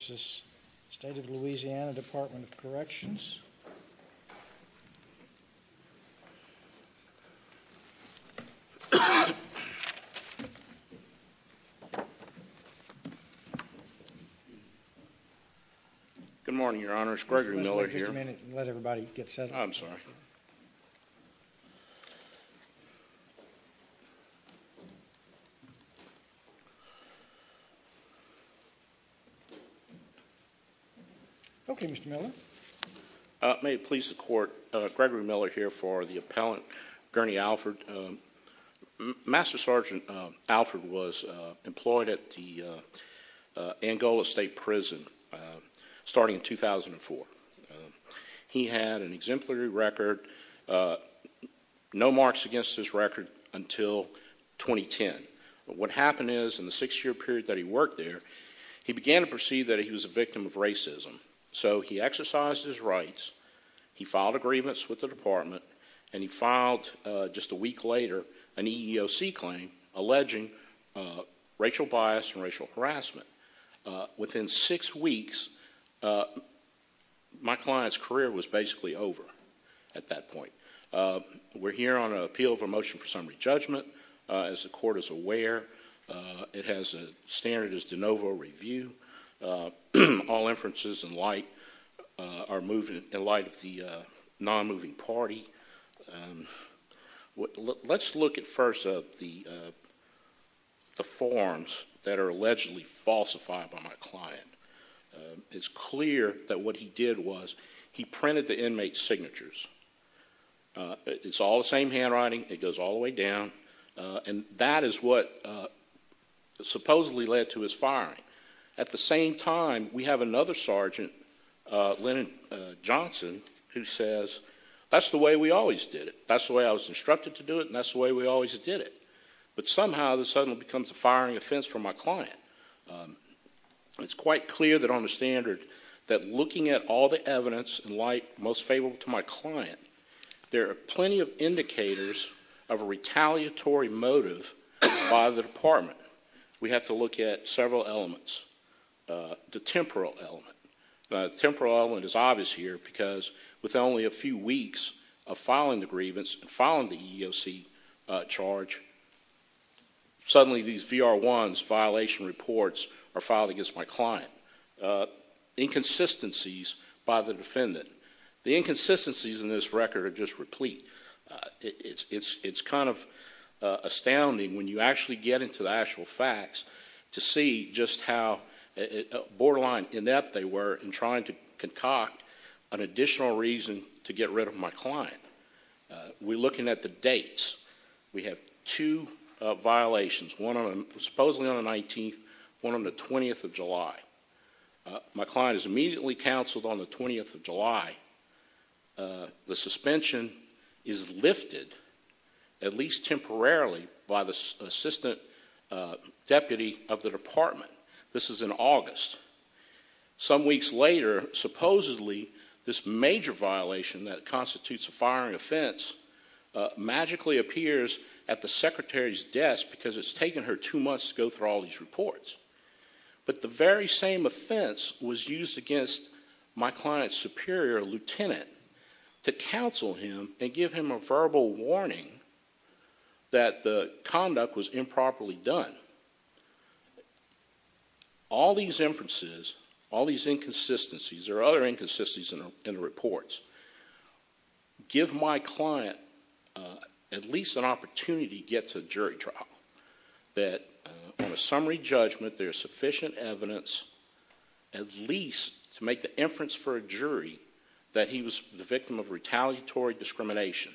Good morning, Your Honors. Gregory Miller here. May it please the Court, Gregory Miller here for the Appellant Gurney Alfred. Master Sergeant Alfred was employed at the Angola State Prison starting in 2004. He had an exemplary record, no marks against his record until 2010. What happened is in the six year period that he was a victim of racism. So he exercised his rights, he filed a grievance with the department, and he filed just a week later an EEOC claim alleging racial bias and racial harassment. Within six weeks, my client's career was basically over at that point. We're here on an appeal of a motion for summary judgment. As the Court is aware, it has a standard as de novo review. All inferences in light of the non-moving party. Let's look at first the forms that are allegedly falsified by my client. It's clear that what he did was he printed the inmate's signatures. It's all the same handwriting. It goes all the way down. That is what supposedly led to his firing. At the same time, we have another sergeant, Lennon Johnson, who says that's the way we always did it. That's the way I was instructed to do it and that's the way we always did it. But somehow, this suddenly becomes a firing offense for my client. It's quite clear that on the standard that looking at all the evidence in light most favorable to my client, there are plenty of indicators of a retaliatory motive by the department. We have to look at several elements. The temporal element. The temporal element is obvious here because with only a few weeks of filing the grievance and filing the EEOC charge, suddenly these VR1s, violation reports, are filed against my client. Inconsistencies by the defendant. The inconsistencies in this record are just replete. It's kind of astounding when you actually get into the actual facts to see just how borderline inept they were in trying to concoct an additional reason to get rid of my client. We're looking at the dates. We have two violations. One supposedly on the 19th. One on the 20th of July. My client is immediately counseled on the 20th of July. The suspension is lifted at least temporarily by the assistant deputy of the department. This is in August. Some weeks later, supposedly this major violation that constitutes a firing offense magically appears at the secretary's desk because it's taken her two months to go through all these reports. But the very same offense was used against my client's superior, a lieutenant, to counsel him and give him a verbal warning that the conduct was improperly done. All these inferences, all these inconsistencies, there are other inconsistencies in the reports, give my client at least an opportunity to get to a jury trial. That on a summary judgment there is sufficient evidence at least to make the inference for a jury that he was the victim of retaliatory discrimination.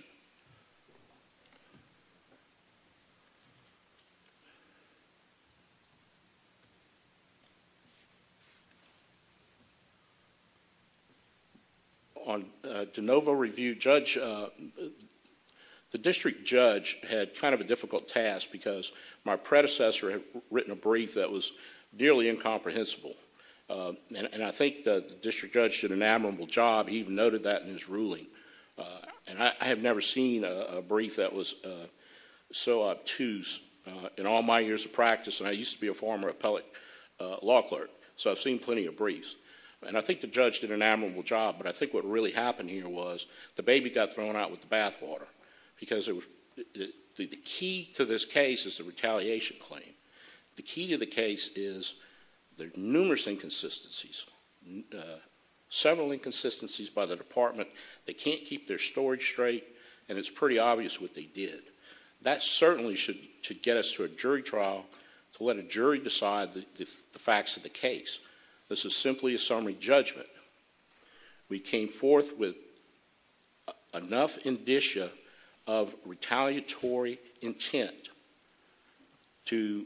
On de novo review, the district judge had kind of a difficult task because my predecessor had written a brief that was nearly incomprehensible. And I think the district judge did an admirable job. He even noted that in his ruling. And I have never seen a brief that was so obtuse in all my years of practice. And I used to be a former appellate law clerk. So I've seen plenty of briefs. And I think the judge did an admirable job. But I think what really happened here was the baby got thrown out with the bathwater. Because the key to this case is the retaliation claim. The key to the case is the numerous inconsistencies. Several inconsistencies by the department. They can't keep their storage straight and it's pretty obvious what they did. That certainly should get us to a jury trial to let a jury decide the facts of the case. This is simply a summary judgment. We came forth with enough indicia of retaliatory intent to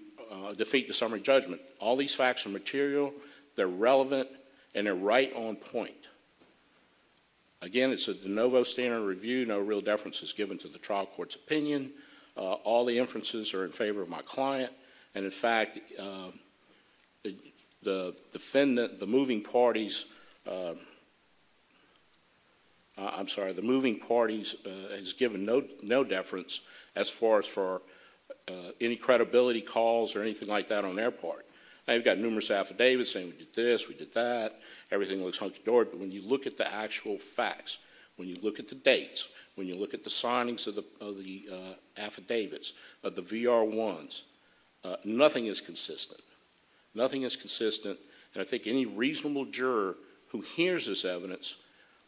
defeat the summary judgment. All these facts are material. They're relevant. And they're right on point. Again it's a DeNovo standard review. No real deference is given to the trial court's opinion. All the inferences are in favor of my client. And in fact the defendant, the moving parties, I'm sorry the moving parties is given no deference as far as for any credibility calls or anything like that on their part. They've got numerous affidavits saying we did this, we did that. Everything looks hunky dory. But when you look at the actual facts, when you look at the dates, when you look at the signings of the affidavits, of the VR1s, nothing is consistent. Nothing is consistent. And I think any reasonable juror who hears this evidence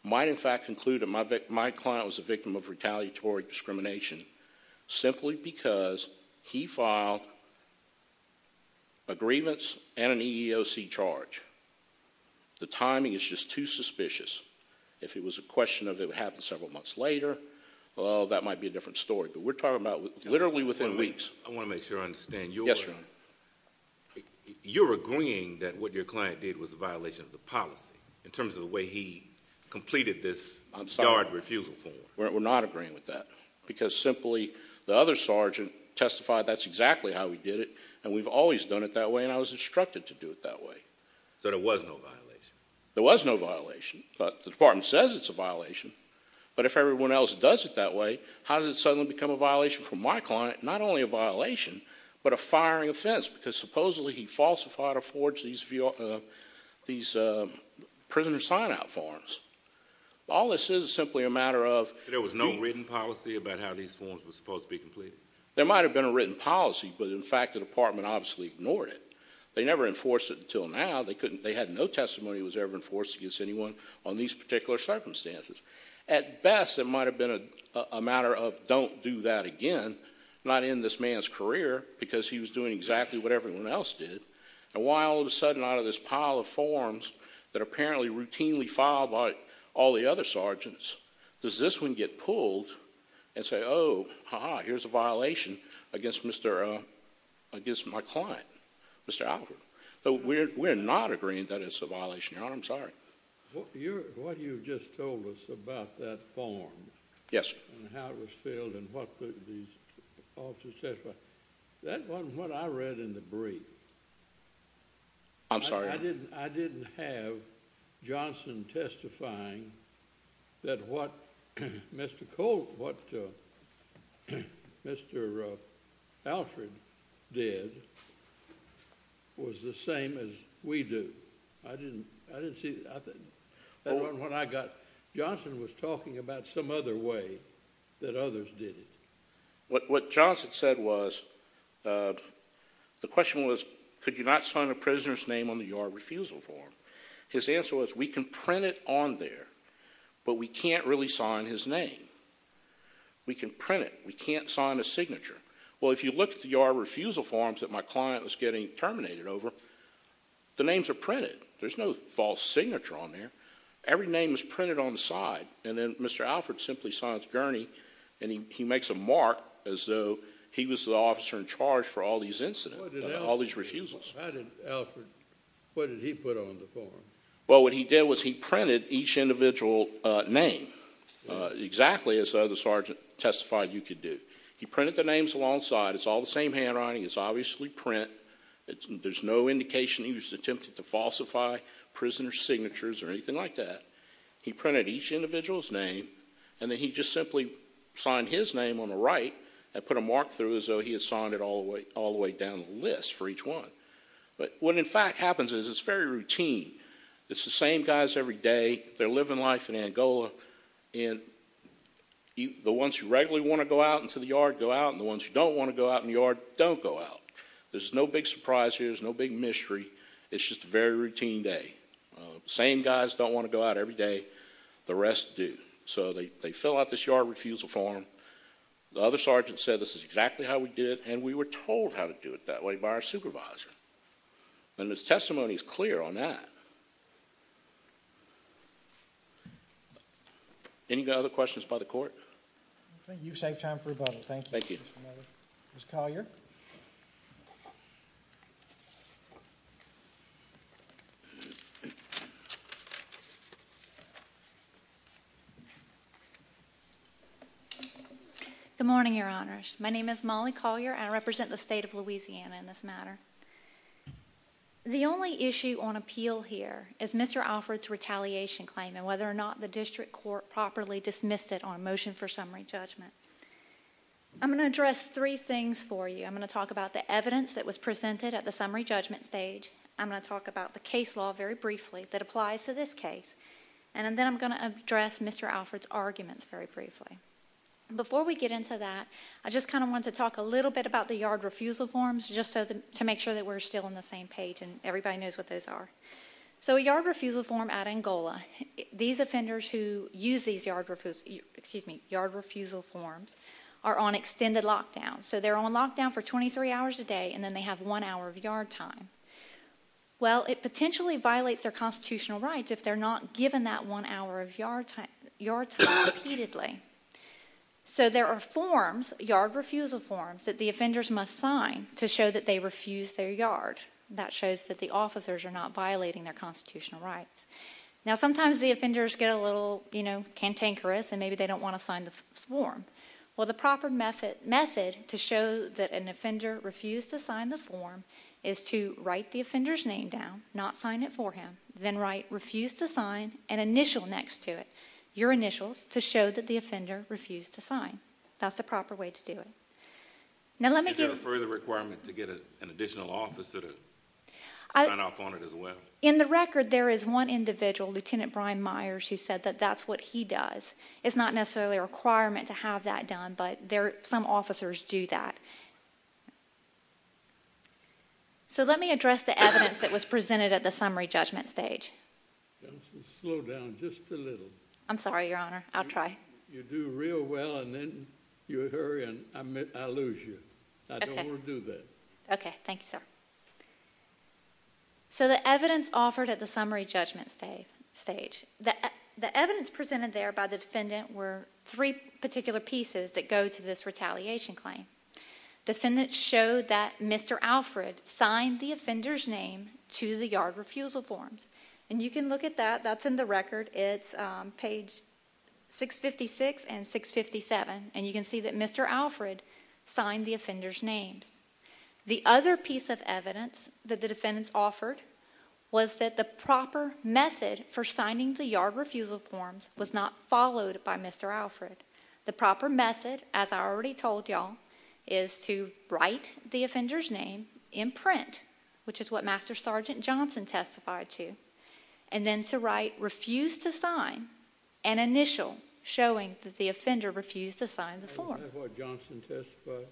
might in fact conclude that my client was a victim of retaliatory discrimination simply because he filed an aggrievance and an EEOC charge. The timing is just too suspicious. If it was a question of it would happen several months later, well that might be a different story. But we're talking about literally within weeks. I want to make sure I understand you're agreeing that what your client did was a violation of the policy in terms of the way he completed this guard refusal form. We're not agreeing with that. Because simply the other sergeant testified that's exactly how he did it. And we've always done it that way and I was instructed to do it that way. So there was no violation? There was no violation. But the department says it's a violation. But if everyone else does it that way, how does it suddenly become a violation for my client? Not only a violation, but a firing offense because supposedly he falsified or forged these prisoner sign-out forms. All this is is simply a matter of... There was no written policy about how these forms were supposed to be completed? There might have been a written policy, but in fact the department obviously ignored it. They never enforced it until now. They had no testimony that was ever enforced against anyone on these particular circumstances. At best it might have been a matter of don't do that again. Not end this man's career because he was doing exactly what everyone else did. And why all of a sudden out of this pile of forms that are apparently routinely filed by all the other sergeants, does this one get pulled and say, oh, aha, here's a violation against my client, Mr. Albert? We're not agreeing that it's a violation, Your Honor. I'm sorry. What you just told us about that form and how it was filled and what the officers testified, that wasn't what I read in the brief. I'm sorry? I didn't have Johnson testifying that what Mr. Alfred did was the same as we do. I didn't see... Johnson was talking about some other way that others did it. What Johnson said was, the question was, could you not sign a prisoner's name on the Your Refusal form? His answer was, we can print it on there, but we can't really sign his name. We can print it. We can't sign a signature. Well, if you look at the Your Refusal forms that my client was getting terminated over, the names are printed. There's no false signature on there. Every name is printed on the side. And then Mr. Alfred simply signs Gurney and he makes a mark as though he was the officer in charge for all these incidents, all these refusals. How did Alfred... What did he put on the form? Well, what he did was he printed each individual name, exactly as the other sergeant testified you could do. He printed the names alongside. It's all the same handwriting. It's obviously print. There's no indication he was attempting to falsify prisoner's signatures or anything like that. He printed each individual's name and then he just simply signed his name on the right and put a mark through as though he had signed it all the way down the list for each one. But what in fact happens is it's very routine. It's the same guys every day. They're living life in Angola. The ones who regularly want to go out into the yard go out, and the ones who don't want to go out in the yard don't go out. There's no big surprise here. There's no big mystery. It's just a very routine day. Same guys don't want to go out every day. The rest do. So they fill out this yard refusal form. The other sergeant said this is exactly how we did it, and we were told how to do it that way by our supervisor. And his testimony is clear on that. Any other questions by the court? You've saved time for rebuttal. Thank you. Ms. Collier. Good morning, Your Honors. My name is Molly Collier, and I represent the state of Louisiana in this matter. The only issue on appeal here is Mr. Alford's retaliation claim and whether or not the district court properly dismissed it on a motion for summary judgment. I'm going to address three things for you. I'm going to talk about the evidence that was presented at the summary judgment stage. I'm going to talk about the case law very briefly that applies to this case. And then I'm going to address Mr. Alford's arguments very briefly. Before we get into that, I just kind of want to talk a little bit about the yard refusal forms, just to make sure that we're still on the same page and everybody knows what those are. So a yard refusal form at Angola, these offenders who use these yard refusal forms are on extended lockdown. So they're on lockdown for 23 hours a day and then they have one hour of yard time. Well, it potentially violates their constitutional rights if they're not given that one hour of yard time repeatedly. So there are forms, yard refusal forms, that the offenders must sign to show that they refuse their yard. That shows that the officers are not violating their constitutional rights. Now sometimes the offenders get a little cantankerous and maybe they don't want to sign the form. Well, the proper method to show that an offender refused to sign the form is to write the offender's name down, not sign it for him, then write refuse to sign and initial next to it, your initials, to show that the offender refused to sign. That's the proper way to do it. Now let me give... Is there a further requirement to get an additional officer to sign off on it as well? In the record, there is one individual, Lieutenant Brian Myers, who said that that's what he does. It's not necessarily a requirement to have that done, but some officers do that. So let me address the evidence that was presented at the summary judgment stage. Slow down just a little. I'm sorry, Your Honor. I'll try. You do real well and then you hurry and I lose you. I don't want to do that. Okay. Thank you, sir. So the evidence offered at the summary judgment stage, the evidence presented there by the defendant were three particular pieces that go to this retaliation claim. The defendant showed that Mr. Alfred signed the offender's name to the yard refusal forms. And you can look at that. That's in the record. It's page 656 and 657. And you can see that Mr. Alfred signed the offender's names. The other piece of evidence that the defendants offered was that the proper method for signing the yard refusal forms was not followed by Mr. Alfred. The proper method, as I already told y'all, is to write the offender's name in print, which is what Master Sergeant Johnson testified to, and then to write, refuse to sign, an initial showing that the offender refused to sign the form. Was that what Johnson testified?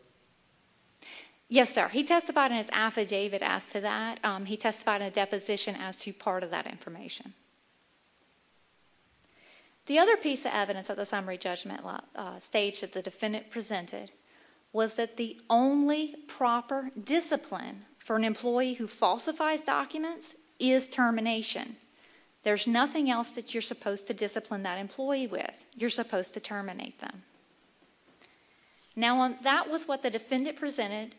Yes, sir. He testified in his affidavit as to that. He testified in a deposition as to that. The other piece of evidence at the summary judgment stage that the defendant presented was that the only proper discipline for an employee who falsifies documents is termination. There's nothing else that you're supposed to discipline that employee with. You're supposed to terminate them. Now that was what the defendant presented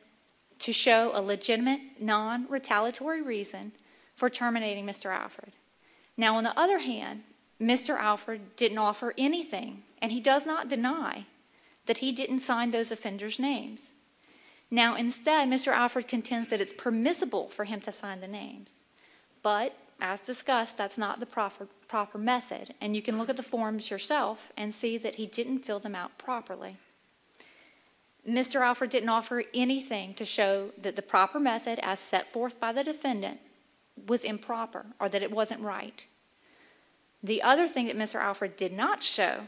to show a legitimate, non-retaliatory reason for terminating Mr. Alfred. Now, on the other hand, Mr. Alfred didn't offer anything, and he does not deny that he didn't sign those offenders' names. Now, instead, Mr. Alfred contends that it's permissible for him to sign the names, but as discussed, that's not the proper method, and you can look at the forms yourself and see that he didn't fill them out properly. Mr. Alfred didn't offer anything to show that the proper method as set forth by the defendant was improper or that it wasn't right. The other thing that Mr. Alfred did not show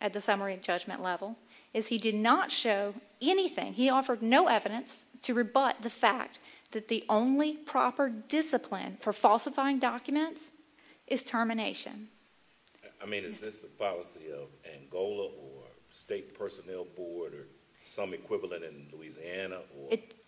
at the summary judgment level is he did not show anything. He offered no evidence to rebut the fact that the only proper discipline for falsifying documents is termination. I mean, is this the policy of Angola or State Personnel Board or some equivalent in Louisiana?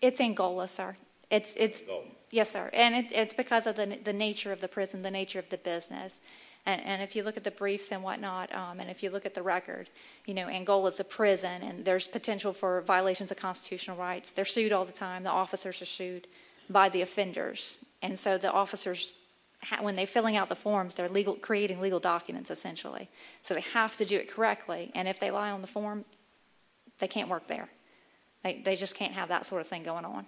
It's Angola, sir. It's Angola? Yes, sir, and it's because of the nature of the prison, the nature of the business, and if you look at the briefs and whatnot, and if you look at the record, you know, Angola is a prison, and there's potential for violations of constitutional rights. They're sued all the time. The officers are sued by the offenders, and so the officers, when they're filling out the forms, they're creating legal documents, essentially, so they have to do it correctly, and if they lie on the form, they can't work there. They just can't have that sort of thing going on.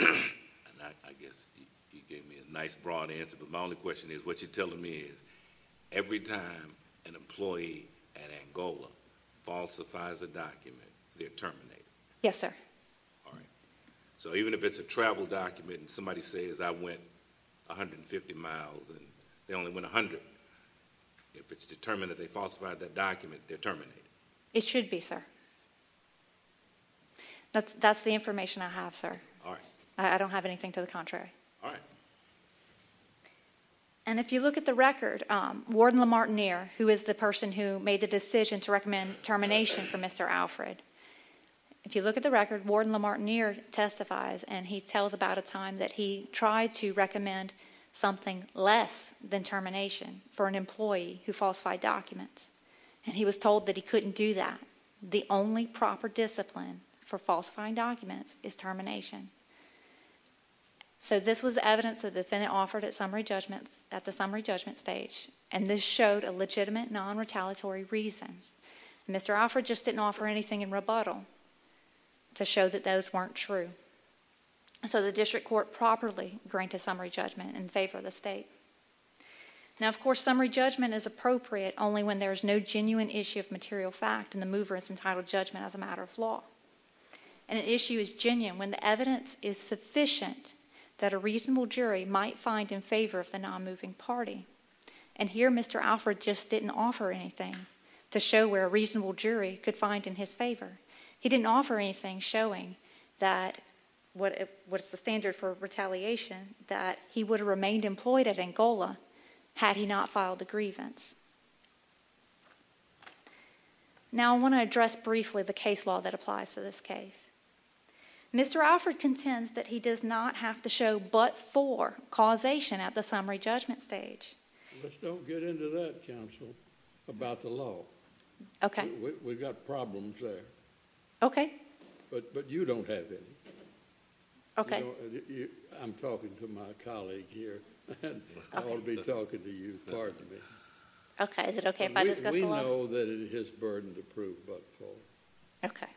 I guess you gave me a nice, broad answer, but my only question is, what you're telling me is, every time an employee at Angola falsifies a document, they're terminated. Yes, sir. All right, so even if it's a travel document, and somebody says, I went 150 miles, and they only went 100, if it's determined that they falsified that document, they're terminated. It should be, sir. That's the information I have, sir. All right. I don't have anything to the contrary. All right. And if you look at the record, Warden Lamartineer, who is the person who made the decision to terminate, Warden Lamartineer testifies, and he tells about a time that he tried to recommend something less than termination for an employee who falsified documents, and he was told that he couldn't do that. The only proper discipline for falsifying documents is termination. So this was evidence the defendant offered at the summary judgment stage, and this showed a legitimate, non-retaliatory reason. Mr. Alford just didn't offer anything in rebuttal to show that those weren't true. So the district court properly granted summary judgment in favor of the state. Now, of course, summary judgment is appropriate only when there is no genuine issue of material fact, and the mover is entitled to judgment as a matter of law. An issue is genuine when the evidence is sufficient that a reasonable jury might find in favor of the non-moving party. And here, Mr. Alford just didn't offer anything to show where a reasonable jury could find in his favor. He didn't offer anything showing what is the standard for retaliation, that he would have remained employed at Angola had he not filed the grievance. Now, I want to address briefly the case law that applies to this case. Mr. Alford contends that he does not have to show but for causation at the summary judgment stage. Let's don't get into that, counsel, about the law. Okay. We've got problems there. Okay. But you don't have any. Okay. I'm talking to my colleague here. I'll be talking to you. Pardon me. Okay. Is it okay if I discuss the law? We know that it is his burden to prove but for. Okay.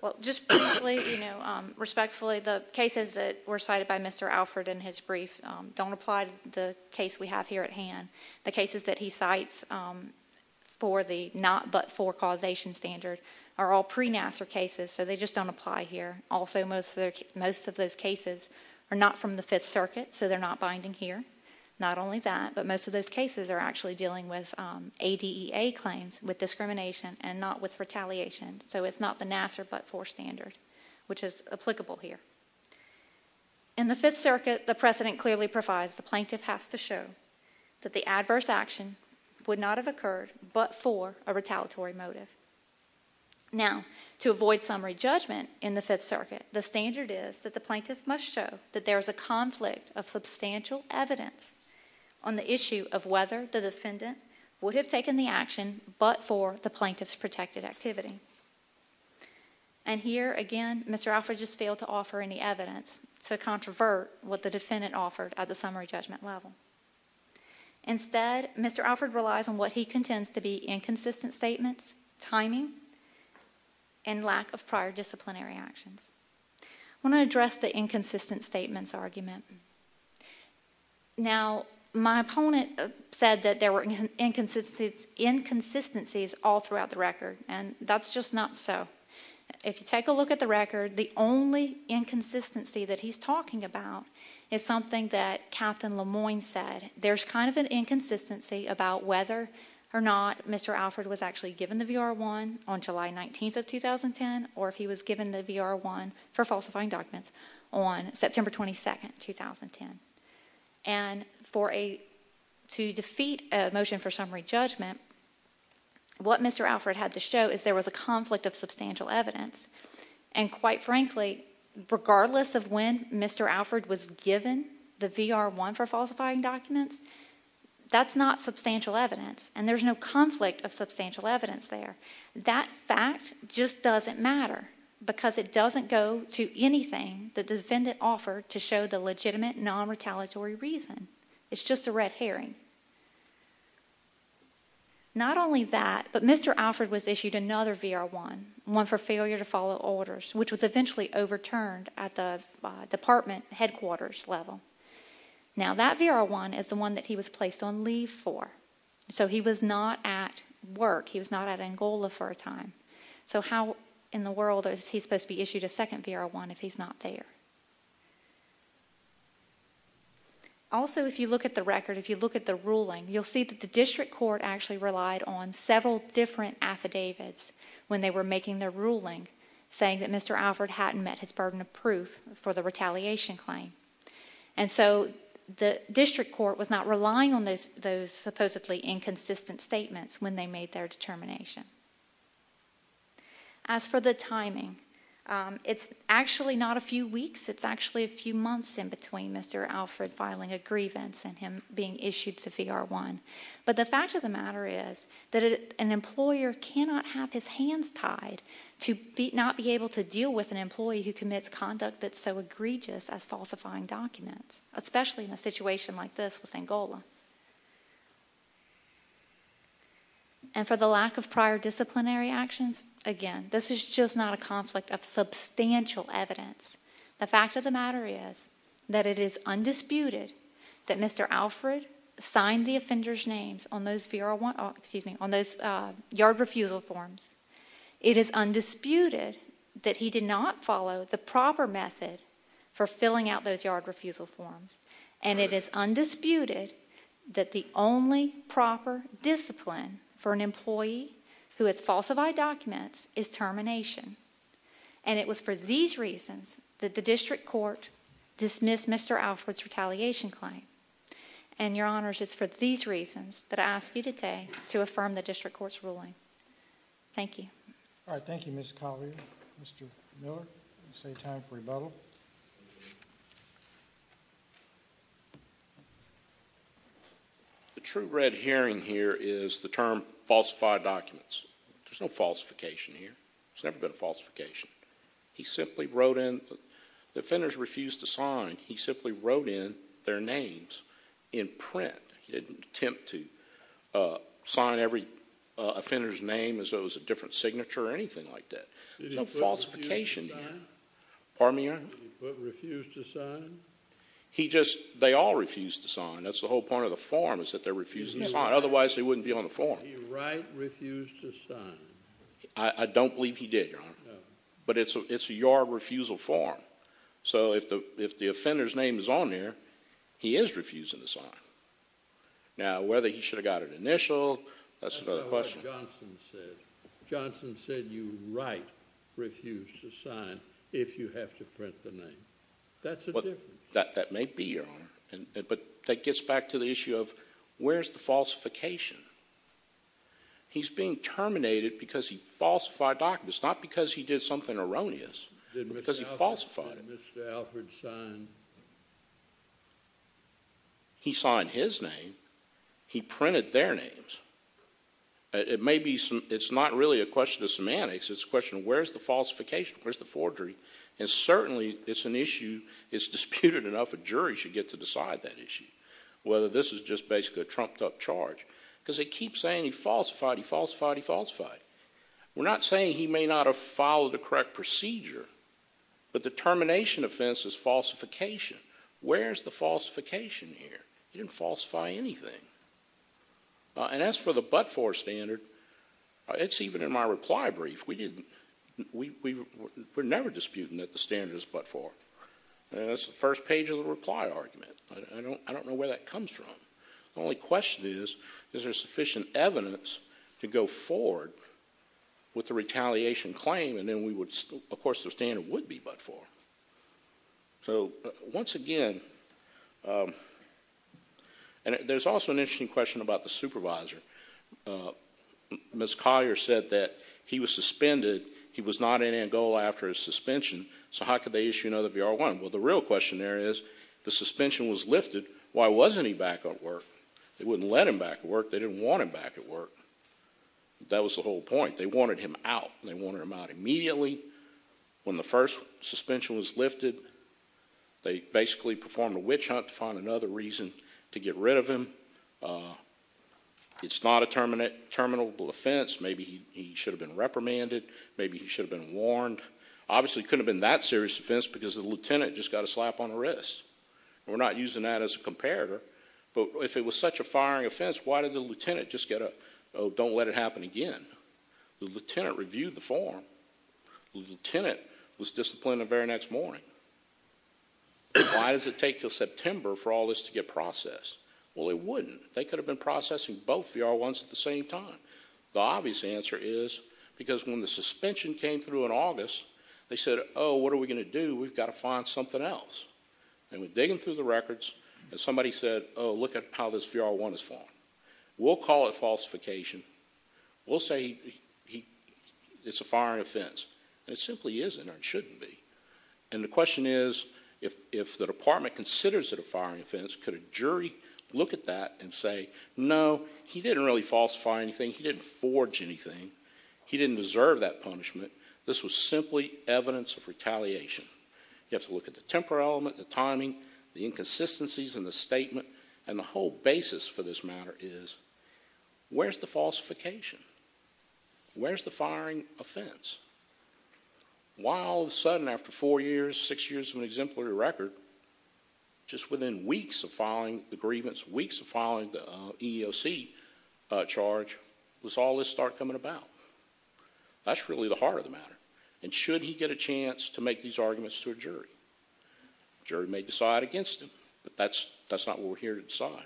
Well, just briefly, you know, respectfully, the cases that were cited by Mr. Alford in his brief don't apply to the case we have here at hand. The cases that he cites for the not but for causation standard are all pre-NASA cases, so they just don't apply here. Also, most of those cases are not from the Fifth Circuit, so they're not binding here. Not only that, but most of those cases are actually dealing with ADEA claims, with discrimination, and not with retaliation. So it's not the NASA but for standard, which is applicable here. In the Fifth Circuit, the precedent clearly provides the plaintiff has to show that the adverse action would not have occurred but for a retaliatory motive. Now, to avoid summary judgment in the Fifth Circuit, the standard is that the plaintiff must show that there is a conflict of substantial evidence on the issue of whether the defendant would have taken the action but for the plaintiff's protected activity. And here, again, Mr. Alford just failed to offer any evidence to controvert what the defendant offered at the summary judgment level. Instead, Mr. Alford relies on what he contends to be inconsistent statements, timing, and lack of prior disciplinary actions. I want to address the inconsistent statements argument. Now, my opponent said that there were inconsistencies all throughout the record, and that's just not so. If you take a look at the record, the only inconsistency that he's talking about is something that Captain Lemoine said. There's kind of an inconsistency about whether or not Mr. Alford was actually given the VR-1 on July 19th of 2010 or if he was given the VR-1 for falsifying documents on September 22nd, 2010. And to defeat a motion for summary judgment, what Mr. Alford had to show is there was a conflict of substantial evidence. And quite frankly, regardless of when Mr. Alford was given the VR-1 for falsifying documents, that's not substantial evidence, and there's no conflict of substantial evidence there. That fact just doesn't matter because it doesn't go to anything the defendant offered to show the legitimate non-retaliatory reason. It's just a red herring. Not only that, but Mr. Alford was issued another VR-1, one for failure to follow orders, which was eventually overturned at the department headquarters level. Now, that VR-1 is the one that he was placed on leave for, so he was not at work. He was not at Angola for a time. So how in the world is he supposed to be issued a second VR-1 if he's not there? Also, if you look at the record, if you look at the ruling, you'll see that the district court actually relied on several different affidavits when they were making their ruling, saying that Mr. Alford hadn't met his burden of proof for the retaliation claim. And so the district court was not relying on those supposedly inconsistent statements when they made their determination. As for the timing, it's actually not a few weeks. It's actually a few months in between Mr. Alford filing a grievance and him being issued the VR-1. But the fact of the matter is that an employer cannot have his hands tied to not be able to deal with an employee who commits conduct that's so egregious as falsifying documents, especially in a situation like this with Angola. And for the lack of prior disciplinary actions, again, this is just not a conflict of substantial evidence. The fact of the matter is that it is undisputed that Mr. Alford signed the offender's names on those VR-1, excuse me, on those yard refusal forms. It is undisputed that he did not follow the proper method for filling out those yard refusal forms. And it is undisputed that the only proper discipline for an employee who has falsified documents is termination. And it was for these reasons that the district court dismissed Mr. Alford's retaliation claim. And, Your Honors, it's for these reasons that I ask you today to affirm the district court's ruling. Thank you. All right, thank you, Ms. Collier. Mr. Miller, you say time for rebuttal. The true red herring here is the term falsified documents. There's no falsification here. There's never been a falsification. He simply wrote in, the offenders refused to sign, he simply wrote in their names in print. He didn't attempt to sign every offender's name as though it was a different signature or anything like that. There's no falsification here. Did he put refuse to sign? Pardon me, Your Honor? Did he put refuse to sign? He just, they all refused to sign. That's the whole point of the form is that they're refusing to sign. Otherwise, they wouldn't be on the form. Did he write refuse to sign? I don't believe he did, Your Honor. No. But it's your refusal form. So if the offender's name is on there, he is refusing to sign. Now, whether he should have got an initial, that's another question. That's not what Johnson said. Johnson said you write refuse to sign if you have to print the name. That's a difference. That may be, Your Honor. But that gets back to the issue of where's the falsification? He's being terminated because he falsified documents, not because he did something erroneous, but because he falsified it. Did Mr. Alford sign? He signed his name. He printed their names. It may be, it's not really a question of semantics. It's a question of where's the falsification? Where's the forgery? And certainly, it's an issue, it's disputed enough, a jury should get to decide that issue, whether this is just basically a trumped-up charge. Because they keep saying he falsified, he falsified, he falsified. We're not saying he may not have followed the correct procedure, but the termination offense is falsification. Where's the falsification here? He didn't falsify anything. And as for the but-for standard, it's even in my reply brief. We're never disputing that the standard is but-for. That's the first page of the reply argument. I don't know where that comes from. The only question is, is there sufficient evidence to go forward with the retaliation claim, and then we would, of course, the standard would be but-for. So, once again, and there's also an interesting question about the supervisor. Ms. Collier said that he was suspended. He was not in Angola after his suspension, so how could they issue another VR-1? Well, the real question there is, the suspension was lifted. Why wasn't he back at work? They wouldn't let him back at work. They didn't want him back at work. That was the whole point. They wanted him out. They wanted him out immediately. When the first suspension was lifted, they basically performed a witch hunt to find another reason to get rid of him. It's not a terminable offense. Maybe he should have been reprimanded. Maybe he should have been warned. Obviously, it couldn't have been that serious offense because the lieutenant just got a slap on the wrist. We're not using that as a comparator, but if it was such a firing offense, why did the lieutenant just get a, oh, don't let it happen again? The lieutenant reviewed the form. The lieutenant was disciplined the very next morning. Why does it take until September for all this to get processed? Well, it wouldn't. They could have been processing both VR-1s at the same time. The obvious answer is because when the suspension came through in August, they said, oh, what are we going to do? We've got to find something else. And we're digging through the records, and somebody said, oh, look at how this VR-1 is formed. We'll call it falsification. We'll say it's a firing offense. It simply isn't or it shouldn't be. And the question is, if the department considers it a firing offense, could a jury look at that and say, no, he didn't really falsify anything. He didn't forge anything. He didn't deserve that punishment. This was simply evidence of retaliation. You have to look at the temporal element, the timing, the inconsistencies in the statement, and the whole basis for this matter is where's the falsification? Where's the firing offense? Why all of a sudden after four years, six years of an exemplary record, just within weeks of filing the grievance, weeks of filing the EEOC charge, does all this start coming about? That's really the heart of the matter. And should he get a chance to make these arguments to a jury? The jury may decide against him, but that's not what we're here to decide.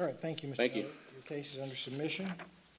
All right, thank you, Mr. Miller. Your case is under submission.